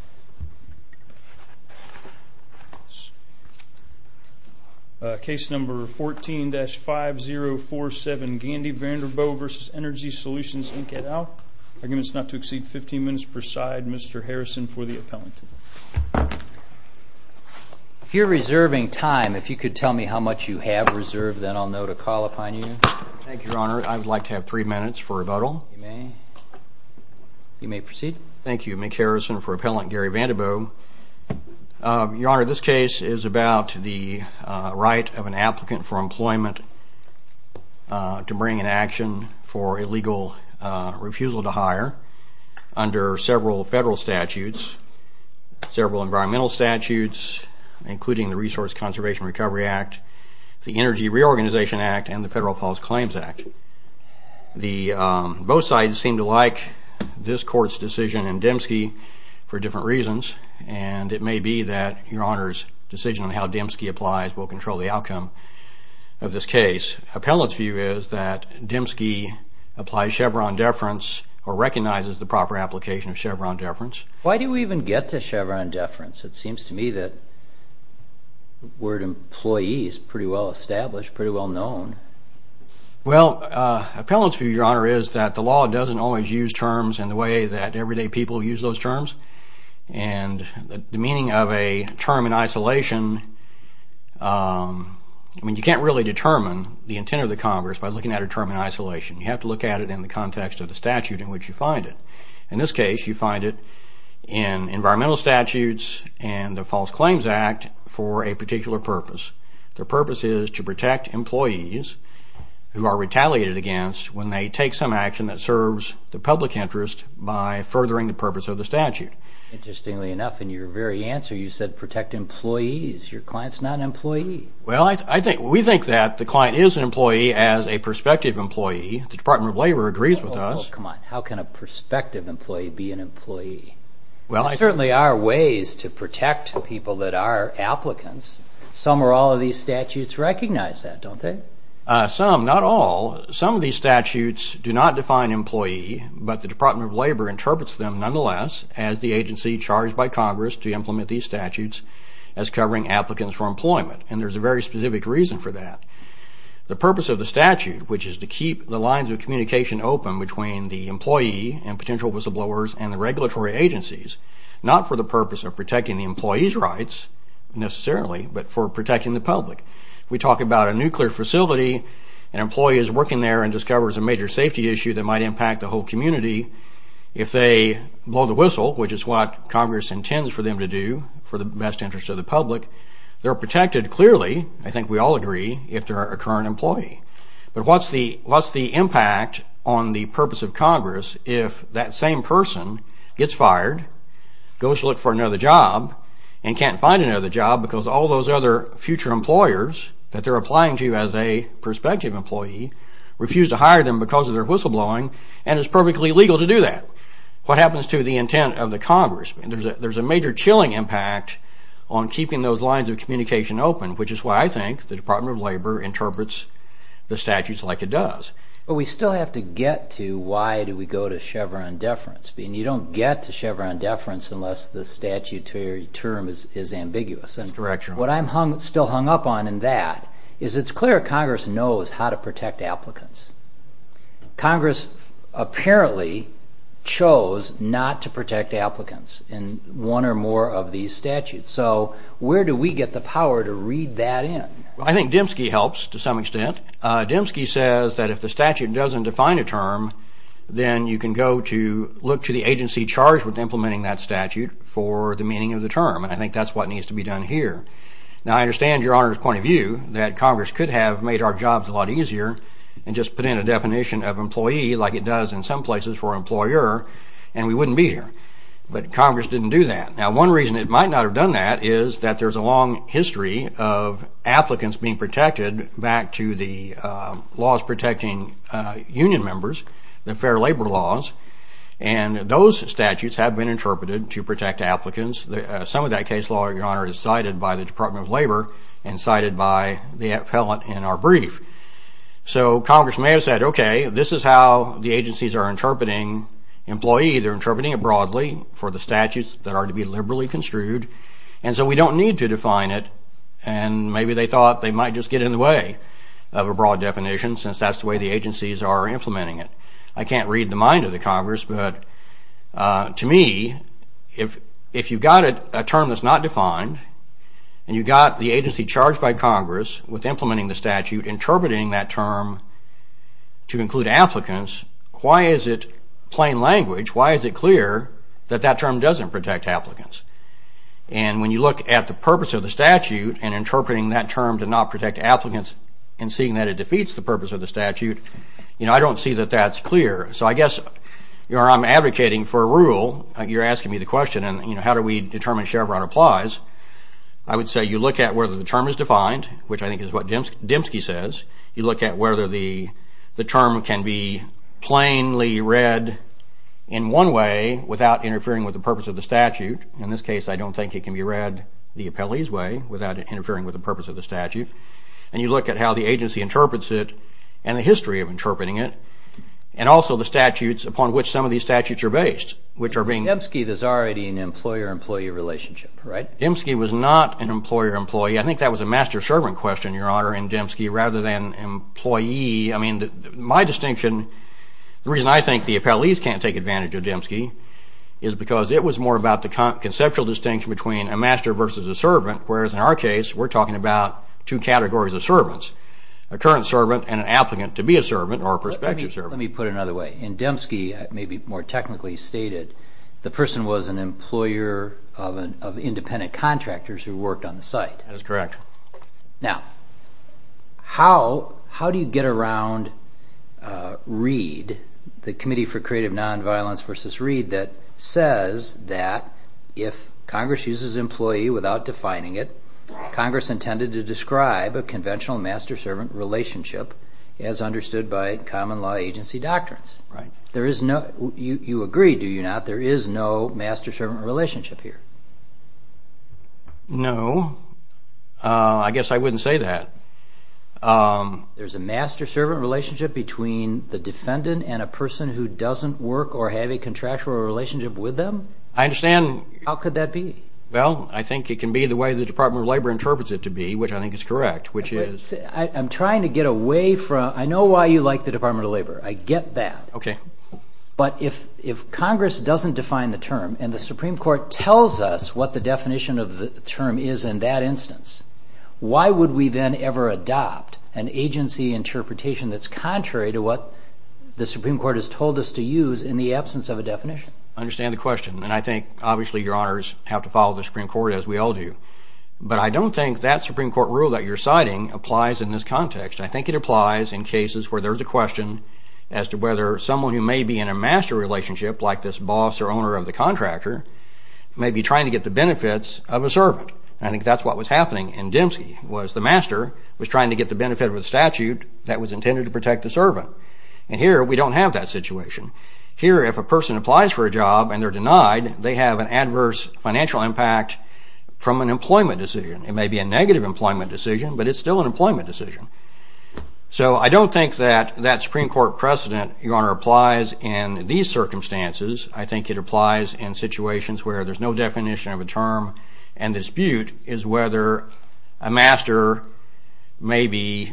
and out. Arguments not to exceed 15 minutes per side. Mr. Harrison for the appellant. If you're reserving time, if you could tell me how much you have reserved, then I'll know to call upon you. Thank you, Your Honor. I would like to have three minutes for rebuttal. You may. You may proceed. Thank you. Mick Harrison for appellant. Gary Vander Boegh. Your Honor, this case is about the right of an applicant for employment to bring an action for illegal refusal to hire under several federal statutes, several environmental statutes, including the Resource Conservation Recovery Act, the Energy Reorganization Act, and the Federal False Claims Act. Both sides seem to like this court's decision and Demske for different reasons, and it may be that Your Honor's decision on how Demske applies will control the outcome of this case. Appellant's view is that Demske applies Chevron deference or recognizes the proper application of Chevron deference. Why do we even get to Chevron deference? It seems to me that we're employees, pretty well established, pretty well known. Appellant's view, Your Honor, is that the law doesn't always use terms in the way that everyday people use those terms, and the meaning of a term in isolation, I mean, you can't really determine the intent of the Congress by looking at a term in isolation. You have to look at it in the context of the statute in which you find it. In this case, you find it in environmental statutes and the False Claims Act for a particular purpose. The purpose is to protect employees who are retaliated against when they take some action that serves the public interest by furthering the purpose of the statute. Interestingly enough, in your very answer, you said protect employees. Your client's not an employee. Well, we think that the client is an employee as a prospective employee. The Department of Labor agrees with us. There certainly are ways to protect people that are applicants. Some or all of these statutes recognize that, don't they? Some, not all. Some of these statutes do not define employee, but the Department of Labor interprets them nonetheless as the agency charged by Congress to implement these statutes as covering applicants for employment. And there's a very specific reason for that. The purpose of the statute, which is to keep the lines of communication open between the employee and potential whistleblowers and the regulatory agencies, not for the purpose of protecting the employee's rights, necessarily, but for protecting the public. We talk about a nuclear facility. An employee is working there and discovers a major safety issue that might impact the whole community. If they blow the whistle, which is what Congress intends for them to do for the best interest of the public, they're protected clearly, I think we all agree, if they're a current employee. But what's the impact on the purpose of Congress if that same person gets fired, goes to look for another job, and can't find another job because all those other future employers that they're applying to as a prospective employee refuse to hire them because of their whistleblowing and it's perfectly legal to do that? What happens to the intent of the Congress? There's a major chilling impact on keeping those lines of communication open, which is why I think the Department of Labor interprets the statutes like it does. But we still have to get to why do we go to Chevron deference. You don't get to Chevron deference unless the statutory term is ambiguous. What I'm still hung up on in that is it's clear Congress knows how to protect applicants. Congress apparently chose not to protect applicants in one or more of these statutes. So where do we get the power to read that in? I think Demske helps to some extent. Demske says that if the statute doesn't define a term, then you can go to look to the agency charged with implementing that statute for the meaning of the term. And I think that's what needs to be done here. Now, I understand Your Honor's point of view that Congress could have made our jobs a lot easier and just put in a definition of employee like it does in some places for employer and we wouldn't be here. But Congress didn't do that. Now, one reason it might not have done that is that there's a long history of applicants being protected back to the laws protecting union members, the fair labor laws. And those statutes have been interpreted to protect applicants. Some of that case law, Your Honor, is cited by the Department of Labor and cited by the appellant in our brief. So Congress may have said, OK, this is how the agencies are interpreting employee. They're interpreting it broadly for the statutes that are to be liberally construed. And so we don't need to define it. And maybe they thought they might just get in the way of a broad definition since that's the way the agencies are implementing it. I can't read the mind of the Congress, but to me, if you've got a term that's not defined and you've got the agency charged by Congress with implementing the statute, interpreting that term to include applicants, why is it plain language, why is it clear that that term doesn't protect applicants? And when you look at the purpose of the statute and interpreting that term to not protect applicants and seeing that it defeats the purpose of the statute, I don't see that that's clear. So I guess, Your Honor, I'm advocating for a rule. You're asking me the question, how do we determine that Chevron applies? I would say you look at whether the term is defined, which I think is what Dembski says. You look at whether the term can be plainly read in one way without interfering with the purpose of the statute. In this case, I don't think it can be read the appellee's way without interfering with the purpose of the statute. And you look at how the agency interprets it and the history of interpreting it and also the statutes upon which some of these statutes are based, which are being... Dembski was not an employer-employee. I think that was a master-servant question, Your Honor, in Dembski, rather than employee. I mean, my distinction, the reason I think the appellees can't take advantage of Dembski is because it was more about the conceptual distinction between a master versus a servant, whereas in our case, we're talking about two categories of servants, a current servant and an applicant to be a servant or a prospective servant. Let me put it another way. In Dembski, maybe more technically stated, the person was an employer of independent contractors who worked on the site. That is correct. Now, how do you get around Reed, the Committee for Creative Nonviolence versus Reed, that says that if Congress uses employee without defining it, Congress intended to describe a conventional master-servant relationship as understood by common law agency doctrines? You agree, do you not, there is no master-servant relationship here? No. I guess I wouldn't say that. There's a master-servant relationship between the defendant and a person who doesn't work or have a contractual relationship with them? I understand. How could that be? Well, I think it can be the way the Department of Labor interprets it to be, which I think is correct, which is... I'm trying to get away from, I know why you like the Department of Labor, I get that. Okay. But if Congress doesn't define the term and the Supreme Court tells us what the definition of the term is in that instance, why would we then ever adopt an agency interpretation that's contrary to what the Supreme Court has told us to use in the absence of a definition? I understand the question, and I think, obviously, your honors have to follow the Supreme Court, as we all do. But I don't think that Supreme Court rule that you're citing applies in this context. I think it applies in cases where there's a question as to whether someone who may be in a master relationship, like this boss or owner of the contractor, may be trying to get the benefits of a servant. I think that's what was happening in Dempsey, was the master was trying to get the benefit of a statute that was intended to protect the servant. And here, we don't have that situation. Here, if a person applies for a job and they're denied, they have an adverse financial impact from an employment decision. It may be a negative employment decision, but it's still an employment decision. So I don't think that that Supreme Court precedent, your honor, applies in these circumstances. I think it applies in situations where there's no definition of a term and dispute is whether a master may be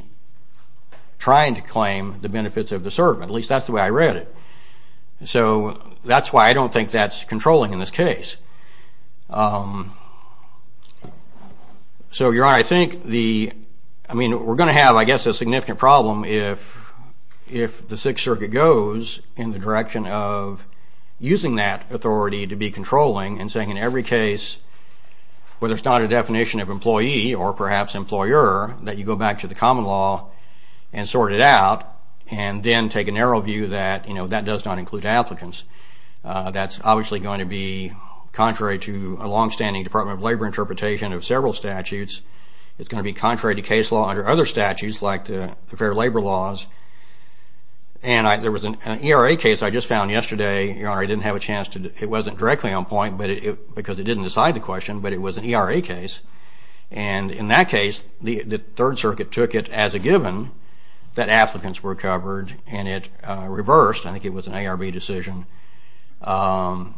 trying to claim the benefits of the servant. At least, that's the way I read it. So that's why I don't think that's controlling in this case. So, your honor, I think the – I mean, we're going to have, I guess, a significant problem if the Sixth Circuit goes in the direction of using that authority to be controlling and saying in every case, whether it's not a definition of employee or perhaps employer, that you go back to the common law and sort it out and then take a narrow view that that does not include applicants. That's obviously going to be contrary to a longstanding Department of Labor interpretation of several statutes. It's going to be contrary to case law under other statutes like the Fair Labor laws. And there was an ERA case I just found yesterday. Your honor, I didn't have a chance to – it wasn't directly on point, because it didn't decide the question, but it was an ERA case. And in that case, the Third Circuit took it as a given that applicants were covered and it reversed. I think it was an ARB decision. So I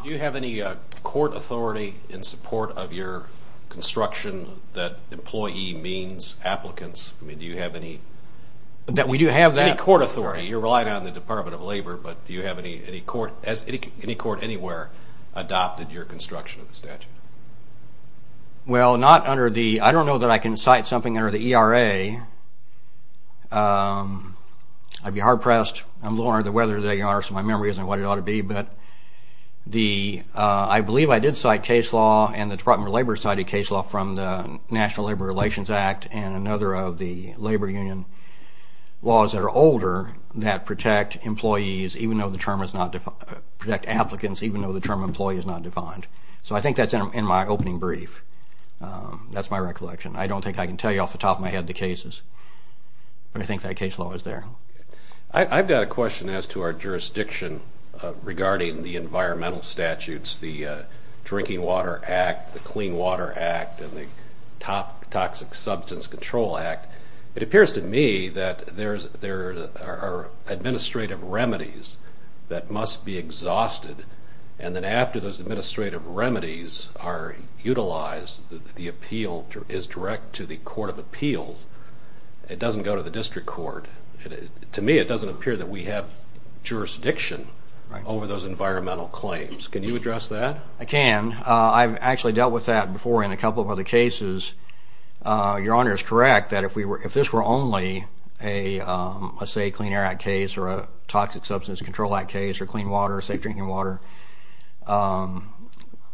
– Do you have any court authority in support of your construction that employee means applicants? I mean, do you have any – That we do have that. Any court authority? You're relying on the Department of Labor, but do you have any court – has any court anywhere adopted your construction of the statute? Well, not under the – I don't know that I can cite something under the ERA. I'd be hard-pressed. I'm a little unaware of the weather today, your honor, so my memory isn't what it ought to be. But the – I believe I did cite case law, and the Department of Labor cited case law from the National Labor Relations Act and another of the labor union laws that are older that protect employees, even though the term is not – protect applicants, even though the term employee is not defined. So I think that's in my opening brief. That's my recollection. I don't think I can tell you off the top of my head the cases, but I think that case law is there. I've got a question as to our jurisdiction regarding the environmental statutes, the Drinking Water Act, the Clean Water Act, and the Toxic Substance Control Act. It appears to me that there are administrative remedies that must be exhausted, and then after those administrative remedies are utilized, the appeal is direct to the court of appeals. It doesn't go to the district court. To me, it doesn't appear that we have jurisdiction over those environmental claims. Can you address that? I can. I've actually dealt with that before in a couple of other cases. Your honor is correct that if this were only, let's say, a Clean Air Act case or a Toxic Substance Control Act case or clean water, safe drinking water,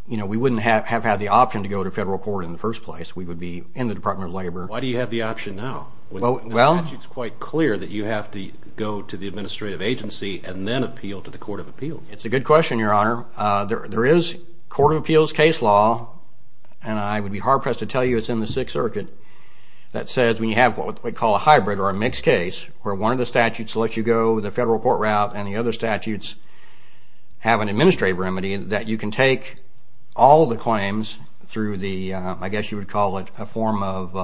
we wouldn't have had the option to go to federal court in the first place. We would be in the Department of Labor. Why do you have the option now? The statute is quite clear that you have to go to the administrative agency and then appeal to the court of appeals. It's a good question, your honor. There is court of appeals case law, and I would be hard-pressed to tell you it's in the Sixth Circuit, that says when you have what we call a hybrid or a mixed case where one of the statutes lets you go the federal court route and the other statutes have an administrative remedy that you can take all the claims through the, I guess you would call it, a form of,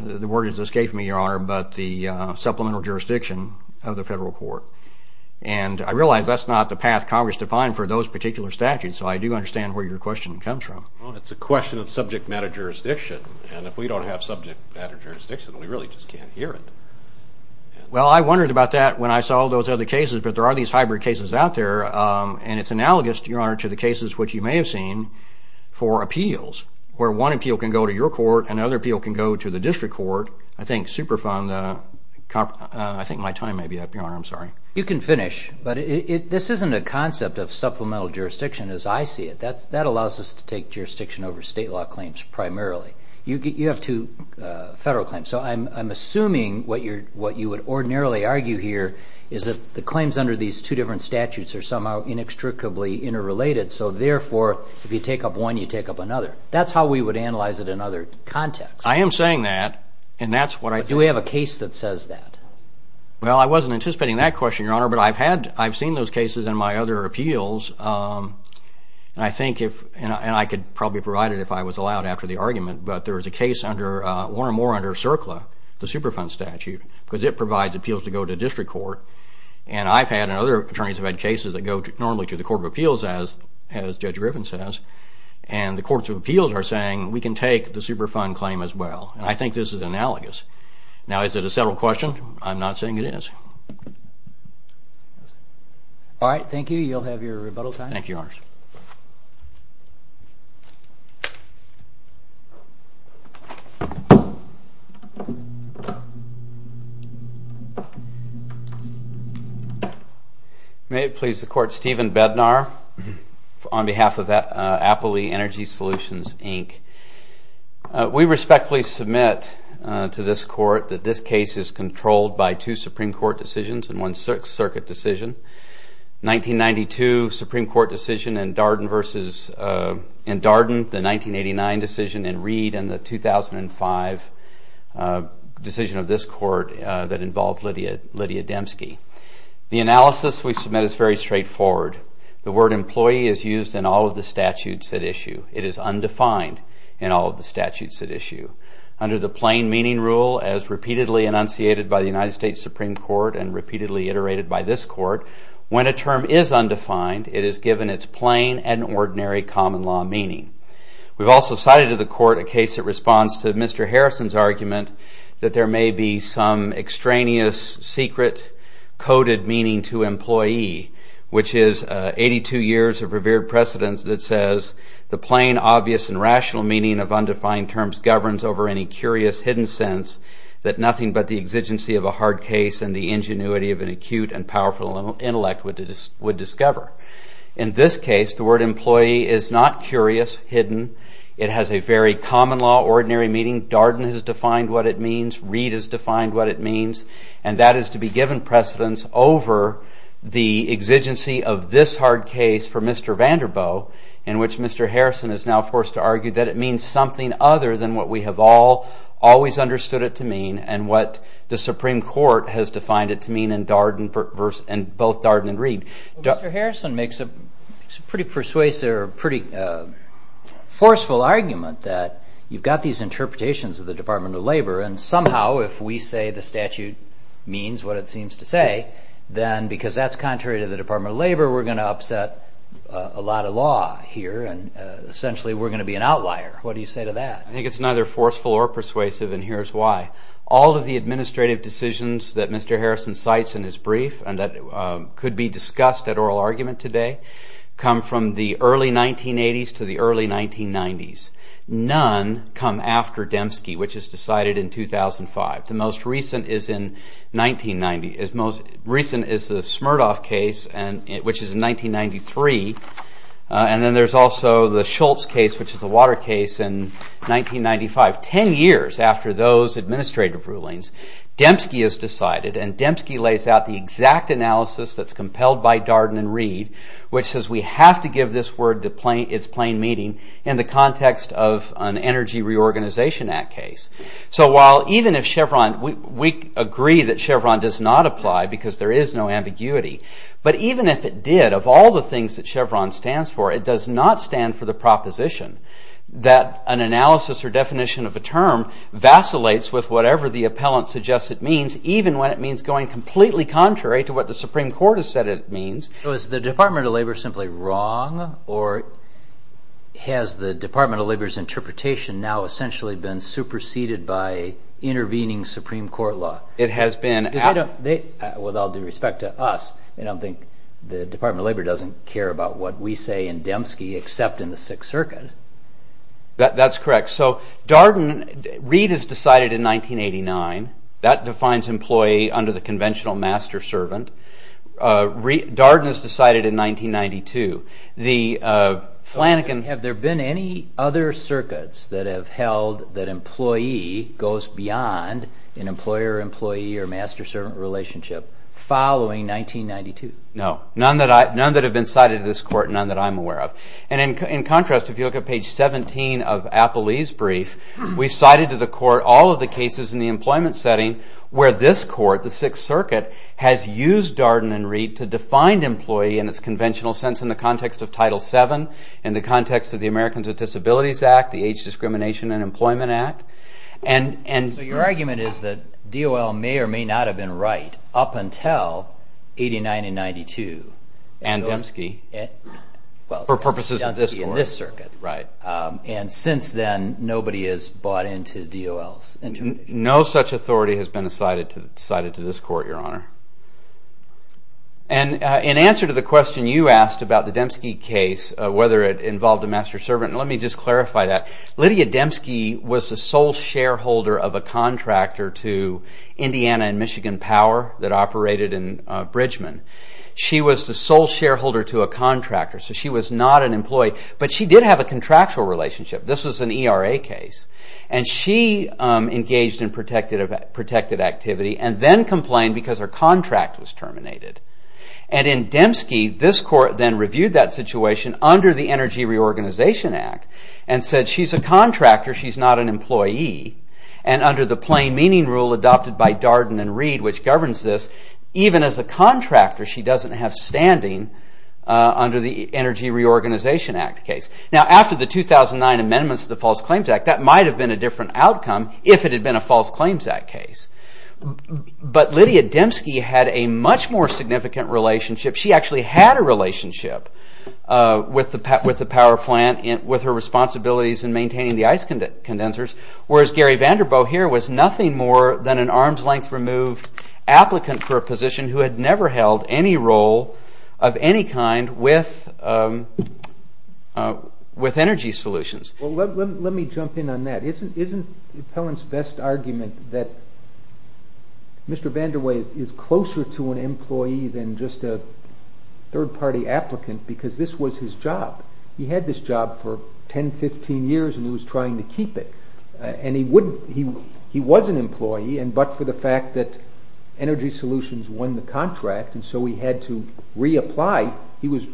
the word is escaping me, your honor, but the supplemental jurisdiction of the federal court. I realize that's not the path Congress defined for those particular statutes, so I do understand where your question comes from. It's a question of subject matter jurisdiction, and if we don't have subject matter jurisdiction, we really just can't hear it. Well, I wondered about that when I saw those other cases, but there are these hybrid cases out there, and it's analogous, your honor, to the cases which you may have seen for appeals where one appeal can go to your court and another appeal can go to the district court. I think Superfund, I think my time may be up, your honor. I'm sorry. You can finish, but this isn't a concept of supplemental jurisdiction as I see it. That allows us to take jurisdiction over state law claims primarily. You have two federal claims, so I'm assuming what you would ordinarily argue here is that the claims under these two different statutes are somehow inextricably interrelated, so therefore if you take up one, you take up another. That's how we would analyze it in other contexts. I am saying that, and that's what I think. Do we have a case that says that? Well, I wasn't anticipating that question, your honor, but I've seen those cases in my other appeals, and I could probably provide it if I was allowed after the argument, but there is a case one or more under CERCLA, the Superfund statute, because it provides appeals to go to district court, and I've had and other attorneys have had cases that go normally to the Court of Appeals, as Judge Griffin says, and the Courts of Appeals are saying we can take the Superfund claim as well, and I think this is analogous. Now, is it a federal question? I'm not saying it is. All right, thank you. You'll have your rebuttal time. Thank you, your honor. May it please the Court, Stephen Bednar, on behalf of Appley Energy Solutions, Inc. We respectfully submit to this court that this case is controlled by two Supreme Court decisions and one Sixth Circuit decision, 1992 Supreme Court decision in Darden versus in Darden, the 1989 decision in Reed, and the 2005 decision of this court that involved Lydia Demske. The analysis we submit is very straightforward. The word employee is used in all of the statutes at issue. It is undefined in all of the statutes at issue. Under the plain meaning rule, as repeatedly enunciated by the United States Supreme Court and repeatedly iterated by this court, when a term is undefined, it is given its plain and ordinary common law meaning. We've also cited to the court a case that responds to Mr. Harrison's argument that there may be some extraneous, secret, coded meaning to employee, which is 82 years of revered precedence that says the plain, obvious, and rational meaning of undefined terms governs over any curious, hidden sense that nothing but the exigency of a hard case and the ingenuity of an acute and powerful intellect would discover. In this case, the word employee is not curious, hidden. It has a very common law, ordinary meaning. Darden has defined what it means. Reed has defined what it means. And that is to be given precedence over the exigency of this hard case for Mr. Vanderboe, in which Mr. Harrison is now forced to argue that it means something other than what we have always understood it to mean and what the Supreme Court has defined it to mean in both Darden and Reed. Mr. Harrison makes a pretty persuasive or pretty forceful argument that you've got these interpretations of the Department of Labor and somehow if we say the statute means what it seems to say, then because that's contrary to the Department of Labor, we're going to upset a lot of law here and essentially we're going to be an outlier. What do you say to that? I think it's neither forceful or persuasive, and here's why. All of the administrative decisions that Mr. Harrison cites in his brief and that could be discussed at oral argument today come from the early 1980s to the early 1990s. None come after Dembski, which is decided in 2005. The most recent is the Smirnoff case, which is in 1993, and then there's also the Schultz case, which is a water case in 1995. Ten years after those administrative rulings, Dembski is decided and Dembski lays out the exact analysis that's compelled by Darden and Reed, which says we have to give this word its plain meaning in the context of an Energy Reorganization Act case. So while even if Chevron, we agree that Chevron does not apply because there is no ambiguity, but even if it did, of all the things that Chevron stands for, it does not stand for the proposition that an analysis or definition of a term vacillates with whatever the appellant suggests it means, even when it means going completely contrary to what the Supreme Court has said it means. So is the Department of Labor simply wrong or has the Department of Labor's interpretation now essentially been superseded by intervening Supreme Court law? It has been. With all due respect to us, I don't think the Department of Labor doesn't care about what we say in Dembski except in the Sixth Circuit. That's correct. So Darden, Reed is decided in 1989. That defines employee under the conventional master-servant. Darden is decided in 1992. Have there been any other circuits that have held that employee goes beyond an employer-employee or master-servant relationship following 1992? No. None that have been cited in this court, none that I'm aware of. And in contrast, if you look at page 17 of Appelee's brief, we cited to the court all of the cases in the employment setting where this court, the Sixth Circuit, has used Darden and Reed to define employee in its conventional sense in the context of Title VII, in the context of the Americans with Disabilities Act, the Age Discrimination and Employment Act. So your argument is that DOL may or may not have been right up until 89 and 92. And Dembski. For purposes of this court. And Dembski in this circuit, right. And since then, nobody has bought into DOL's interpretation. No such authority has been cited to this court, Your Honor. And in answer to the question you asked about the Dembski case, whether it involved a master-servant, let me just clarify that. Lydia Dembski was the sole shareholder of a contractor to Indiana and Michigan Power that operated in Bridgman. She was the sole shareholder to a contractor, so she was not an employee. But she did have a contractual relationship. This was an ERA case. And she engaged in protected activity and then complained because her contract was terminated. And in Dembski, this court then reviewed that situation under the Energy Reorganization Act and said she's a contractor, she's not an employee. And under the plain meaning rule adopted by Darden and Reed, which governs this, even as a contractor she doesn't have standing under the Energy Reorganization Act case. Now after the 2009 amendments to the False Claims Act, that might have been a different outcome if it had been a False Claims Act case. But Lydia Dembski had a much more significant relationship. She actually had a relationship with the power plant, with her responsibilities in maintaining the ice condensers. Whereas Gary Vanderboe here was nothing more than an arm's length removed applicant for a position who had never held any role of any kind with energy solutions. Let me jump in on that. Isn't the appellant's best argument that Mr. Vanderboe is closer to an employee than just a third-party applicant because this was his job? He had this job for 10, 15 years and he was trying to keep it. And he was an employee but for the fact that energy solutions won the contract and so he had to reapply. He was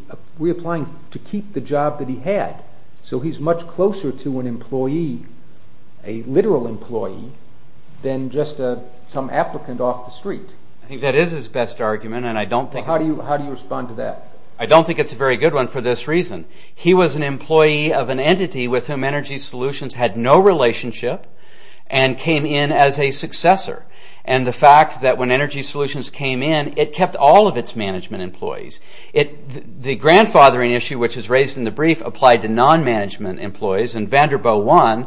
reapplying to keep the job that he had. So he's much closer to an employee, a literal employee, than just some applicant off the street. I think that is his best argument and I don't think... How do you respond to that? I don't think it's a very good one for this reason. He was an employee of an entity with whom energy solutions had no relationship and came in as a successor. And the fact that when energy solutions came in it kept all of its management employees. The grandfathering issue which is raised in the brief applied to non-management employees and Vanderboe I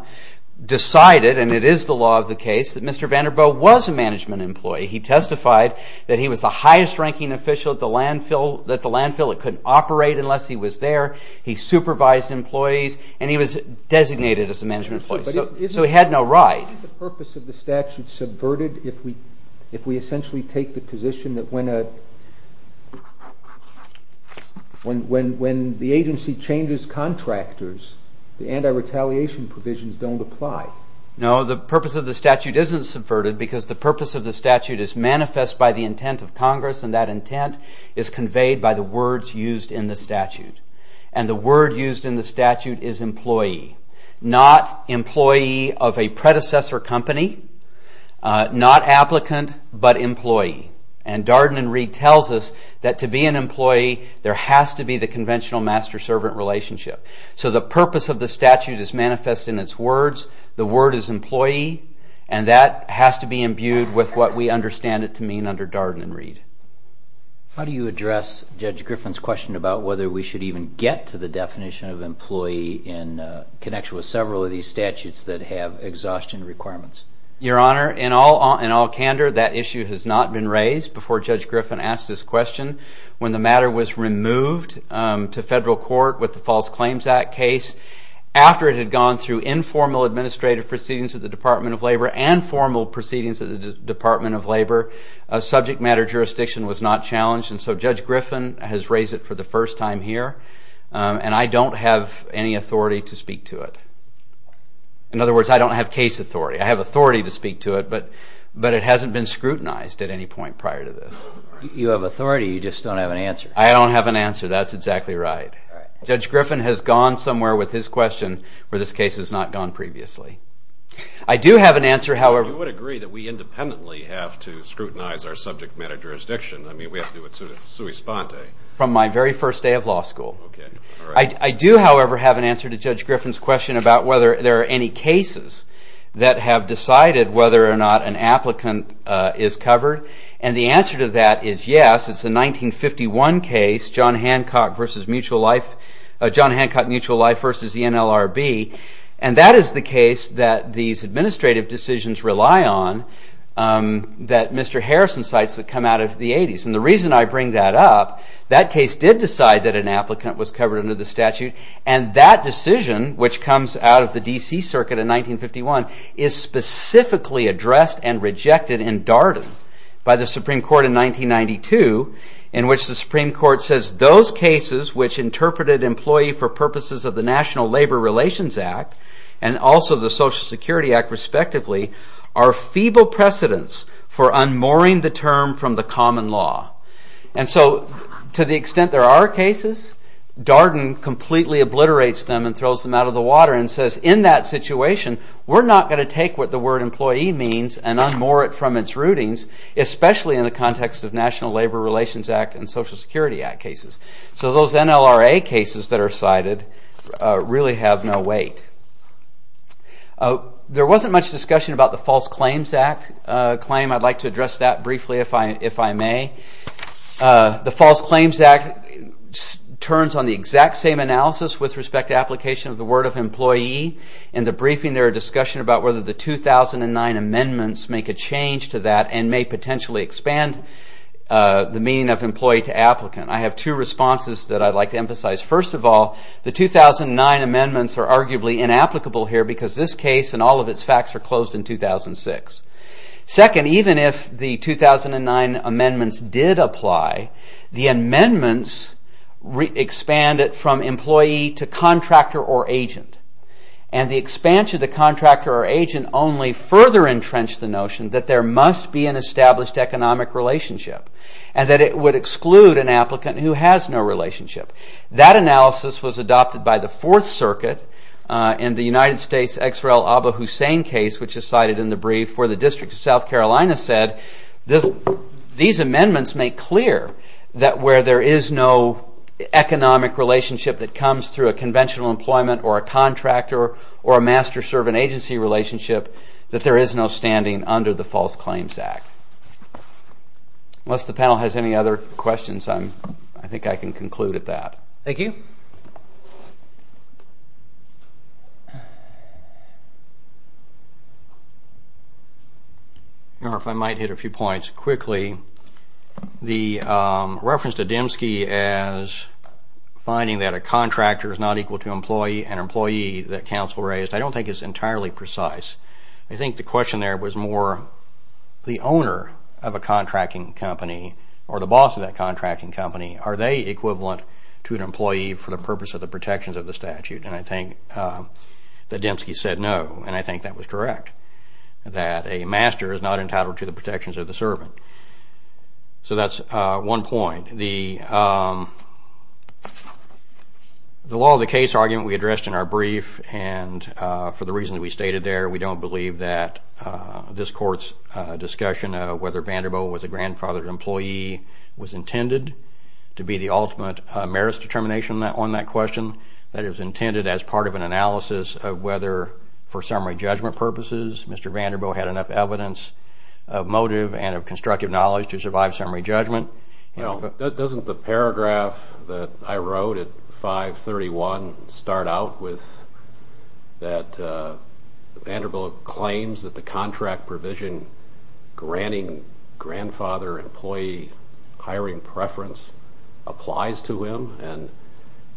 decided, and it is the law of the case, that Mr. Vanderboe was a management employee. He testified that he was the highest ranking official at the landfill, that the landfill couldn't operate unless he was there, he supervised employees and he was designated as a management employee. So he had no right. Isn't the purpose of the statute subverted if we essentially take the position that when the agency changes contractors the anti-retaliation provisions don't apply? No, the purpose of the statute isn't subverted because the purpose of the statute is manifest by the intent of Congress and that intent is conveyed by the words used in the statute. And the word used in the statute is employee. Not employee of a predecessor company, not applicant, but employee. And Darden and Reed tells us that to be an employee there has to be the conventional master-servant relationship. So the purpose of the statute is manifest in its words. The word is employee and that has to be imbued with what we understand it to mean under Darden and Reed. How do you address Judge Griffin's question about whether we should even get to the definition of employee in connection with several of these statutes that have exhaustion requirements? Your Honor, in all candor that issue has not been raised before Judge Griffin asked this question. When the matter was removed to federal court with the False Claims Act case after it had gone through informal administrative proceedings at the Department of Labor and formal proceedings at the Department of Labor subject matter jurisdiction was not challenged and so Judge Griffin has raised it for the first time here and I don't have any authority to speak to it. In other words, I don't have case authority. I have authority to speak to it but it hasn't been scrutinized at any point prior to this. You have authority, you just don't have an answer. I don't have an answer. That's exactly right. Judge Griffin has gone somewhere with his question where this case has not gone previously. I do have an answer, however... You would agree that we independently have to scrutinize our subject matter jurisdiction. I mean, we have to do it sui sponte. From my very first day of law school. I do, however, have an answer to Judge Griffin's question about whether there are any cases that have decided whether or not an applicant is covered and the answer to that is yes. It's a 1951 case, John Hancock vs. Mutual Life... John Hancock, Mutual Life vs. the NLRB and that is the case that these administrative decisions rely on that Mr. Harrison cites that come out of the 80s and the reason I bring that up, that case did decide that an applicant was covered under the statute and that decision, which comes out of the DC circuit in 1951, is specifically addressed and rejected in Darden by the Supreme Court in 1992 in which the Supreme Court says those cases which interpreted employee for purposes of the National Labor Relations Act and also the Social Security Act respectively are feeble precedents for unmooring the term from the common law. And so, to the extent there are cases, Darden completely obliterates them and throws them out of the water and says, in that situation, we're not going to take what the word employee means and unmoor it from its rootings, especially in the context of National Labor Relations Act and Social Security Act cases. So those NLRA cases that are cited really have no weight. There wasn't much discussion about the False Claims Act claim, I'd like to address that briefly if I may. The False Claims Act turns on the exact same analysis with respect to application of the word of employee. In the briefing, there are discussions about whether the 2009 amendments make a change to that and may potentially expand the meaning of employee to applicant. I have two responses that I'd like to emphasize. First of all, the 2009 amendments are arguably inapplicable here because this case and all of its facts are closed in 2006. Second, even if the 2009 amendments did apply, the amendments expand it from employee to contractor or agent. And the expansion to contractor or agent only further entrenched the notion that there must be an established economic relationship and that it would exclude an applicant who has no relationship. That analysis was adopted by the Fourth Circuit in the United States' Ex-Rel Aba Hussein case, which is cited in the brief, where the District of South Carolina said these amendments make clear that where there is no economic relationship that comes through a conventional employment or a contractor or a master-servant agency relationship, that there is no standing under the False Claims Act. Unless the panel has any other questions, I think I can conclude at that. Thank you. If I might hit a few points quickly. The reference to Demske as finding that a contractor is not equal to an employee that counsel raised, I don't think is entirely precise. I think the question there was more the owner of a contracting company or the boss of that contracting company. Are they equivalent to an employee for the purpose of the protections of the statute? And I think that Demske said no, and I think that was correct, that a master is not entitled to the protections of the servant. So that's one point. The law of the case argument we addressed in our brief, and for the reasons we stated there, we don't believe that this Court's discussion of whether Vanderbilt was a grandfathered employee was intended to be the ultimate merits determination on that question. That it was intended as part of an analysis of whether, for summary judgment purposes, Mr. Vanderbilt had enough evidence of motive and of constructive knowledge to survive summary judgment. Doesn't the paragraph that I wrote at 531 start out with that Vanderbilt claims that the contract provision granting grandfather employee hiring preference applies to him? And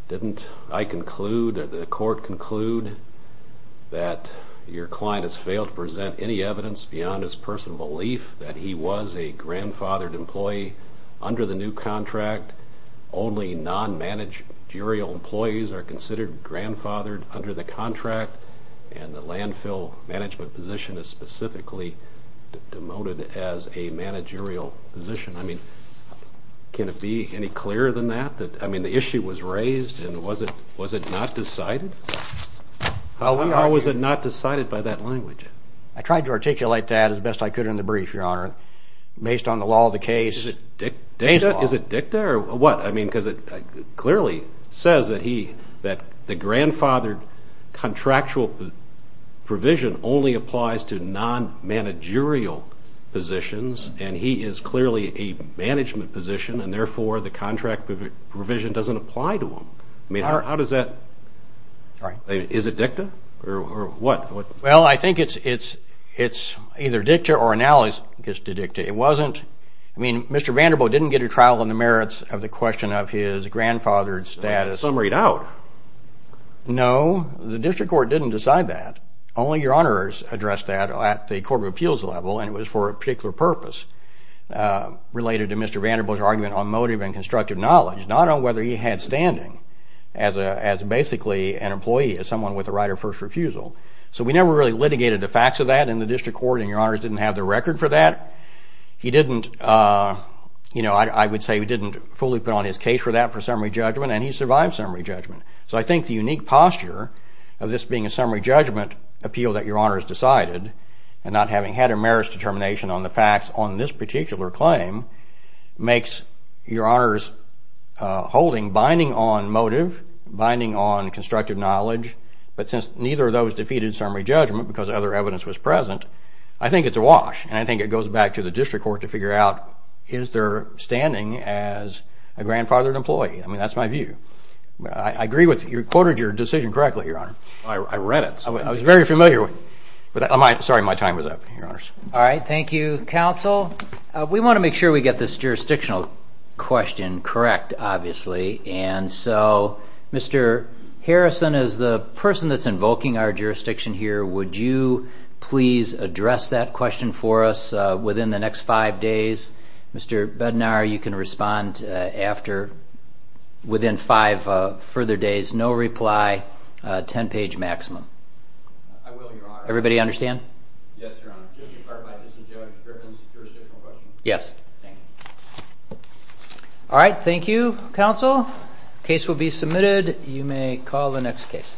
didn't I conclude, or the Court conclude, that your client has failed to present any evidence beyond his personal belief that he was a grandfathered employee under the new contract? Only non-managerial employees are considered grandfathered under the contract, and the landfill management position is specifically demoted as a managerial position. Can it be any clearer than that? The issue was raised, and was it not decided? How was it not decided by that language? I tried to articulate that as best I could in the brief, Your Honor. Based on the law of the case. Is it dicta? Because it clearly says that the grandfathered contractual provision only applies to non-managerial positions, and he is clearly a management position, and therefore the contract provision doesn't apply to him. How does that? Is it dicta? Well, I think it's either dicta or analysis dicta. It wasn't. I mean, Mr. Vanderbilt didn't get a trial on the merits of the question of his grandfathered status. Summaried out. No. The District Court didn't decide that. Only Your Honors addressed that at the Court of Appeals level, and it was for a particular purpose related to Mr. Vanderbilt's argument on motive and constructive knowledge, not on whether he had standing as basically an employee, as someone with a right of first refusal. So we never really litigated the facts of that in the District Court, and Your Honors didn't have the record for that. He didn't, you know, I would say he didn't fully put on his case for that for summary judgment, and he survived summary judgment. So I think the unique posture of this being a summary judgment appeal that Your Honors decided, and not having had a merits determination on the facts on this particular claim, makes Your Honors holding binding on motive, binding on constructive knowledge, but since neither of those defeated summary judgment because other evidence was present, I think it's a wash, and I think it goes back to the District Court to figure out, is there standing as a grandfathered employee? I mean, that's my view. I agree with you. You quoted your decision correctly, Your Honor. I read it. I was very familiar with it. Sorry, my time was up, Your Honors. All right. Thank you, Counsel. We want to make sure we get this jurisdictional question correct, obviously, and so Mr. Harrison, as the person that's invoking our jurisdiction here, would you please address that question for us within the next five days? Mr. Bednar, you can respond after, within five further days, no reply, 10-page maximum. I will, Your Honor. Everybody understand? Yes, Your Honor. Just to clarify, this is Joe Griffin's jurisdictional question? Yes. Thank you. All right. Thank you, Counsel. Case will be submitted. You may call the next case.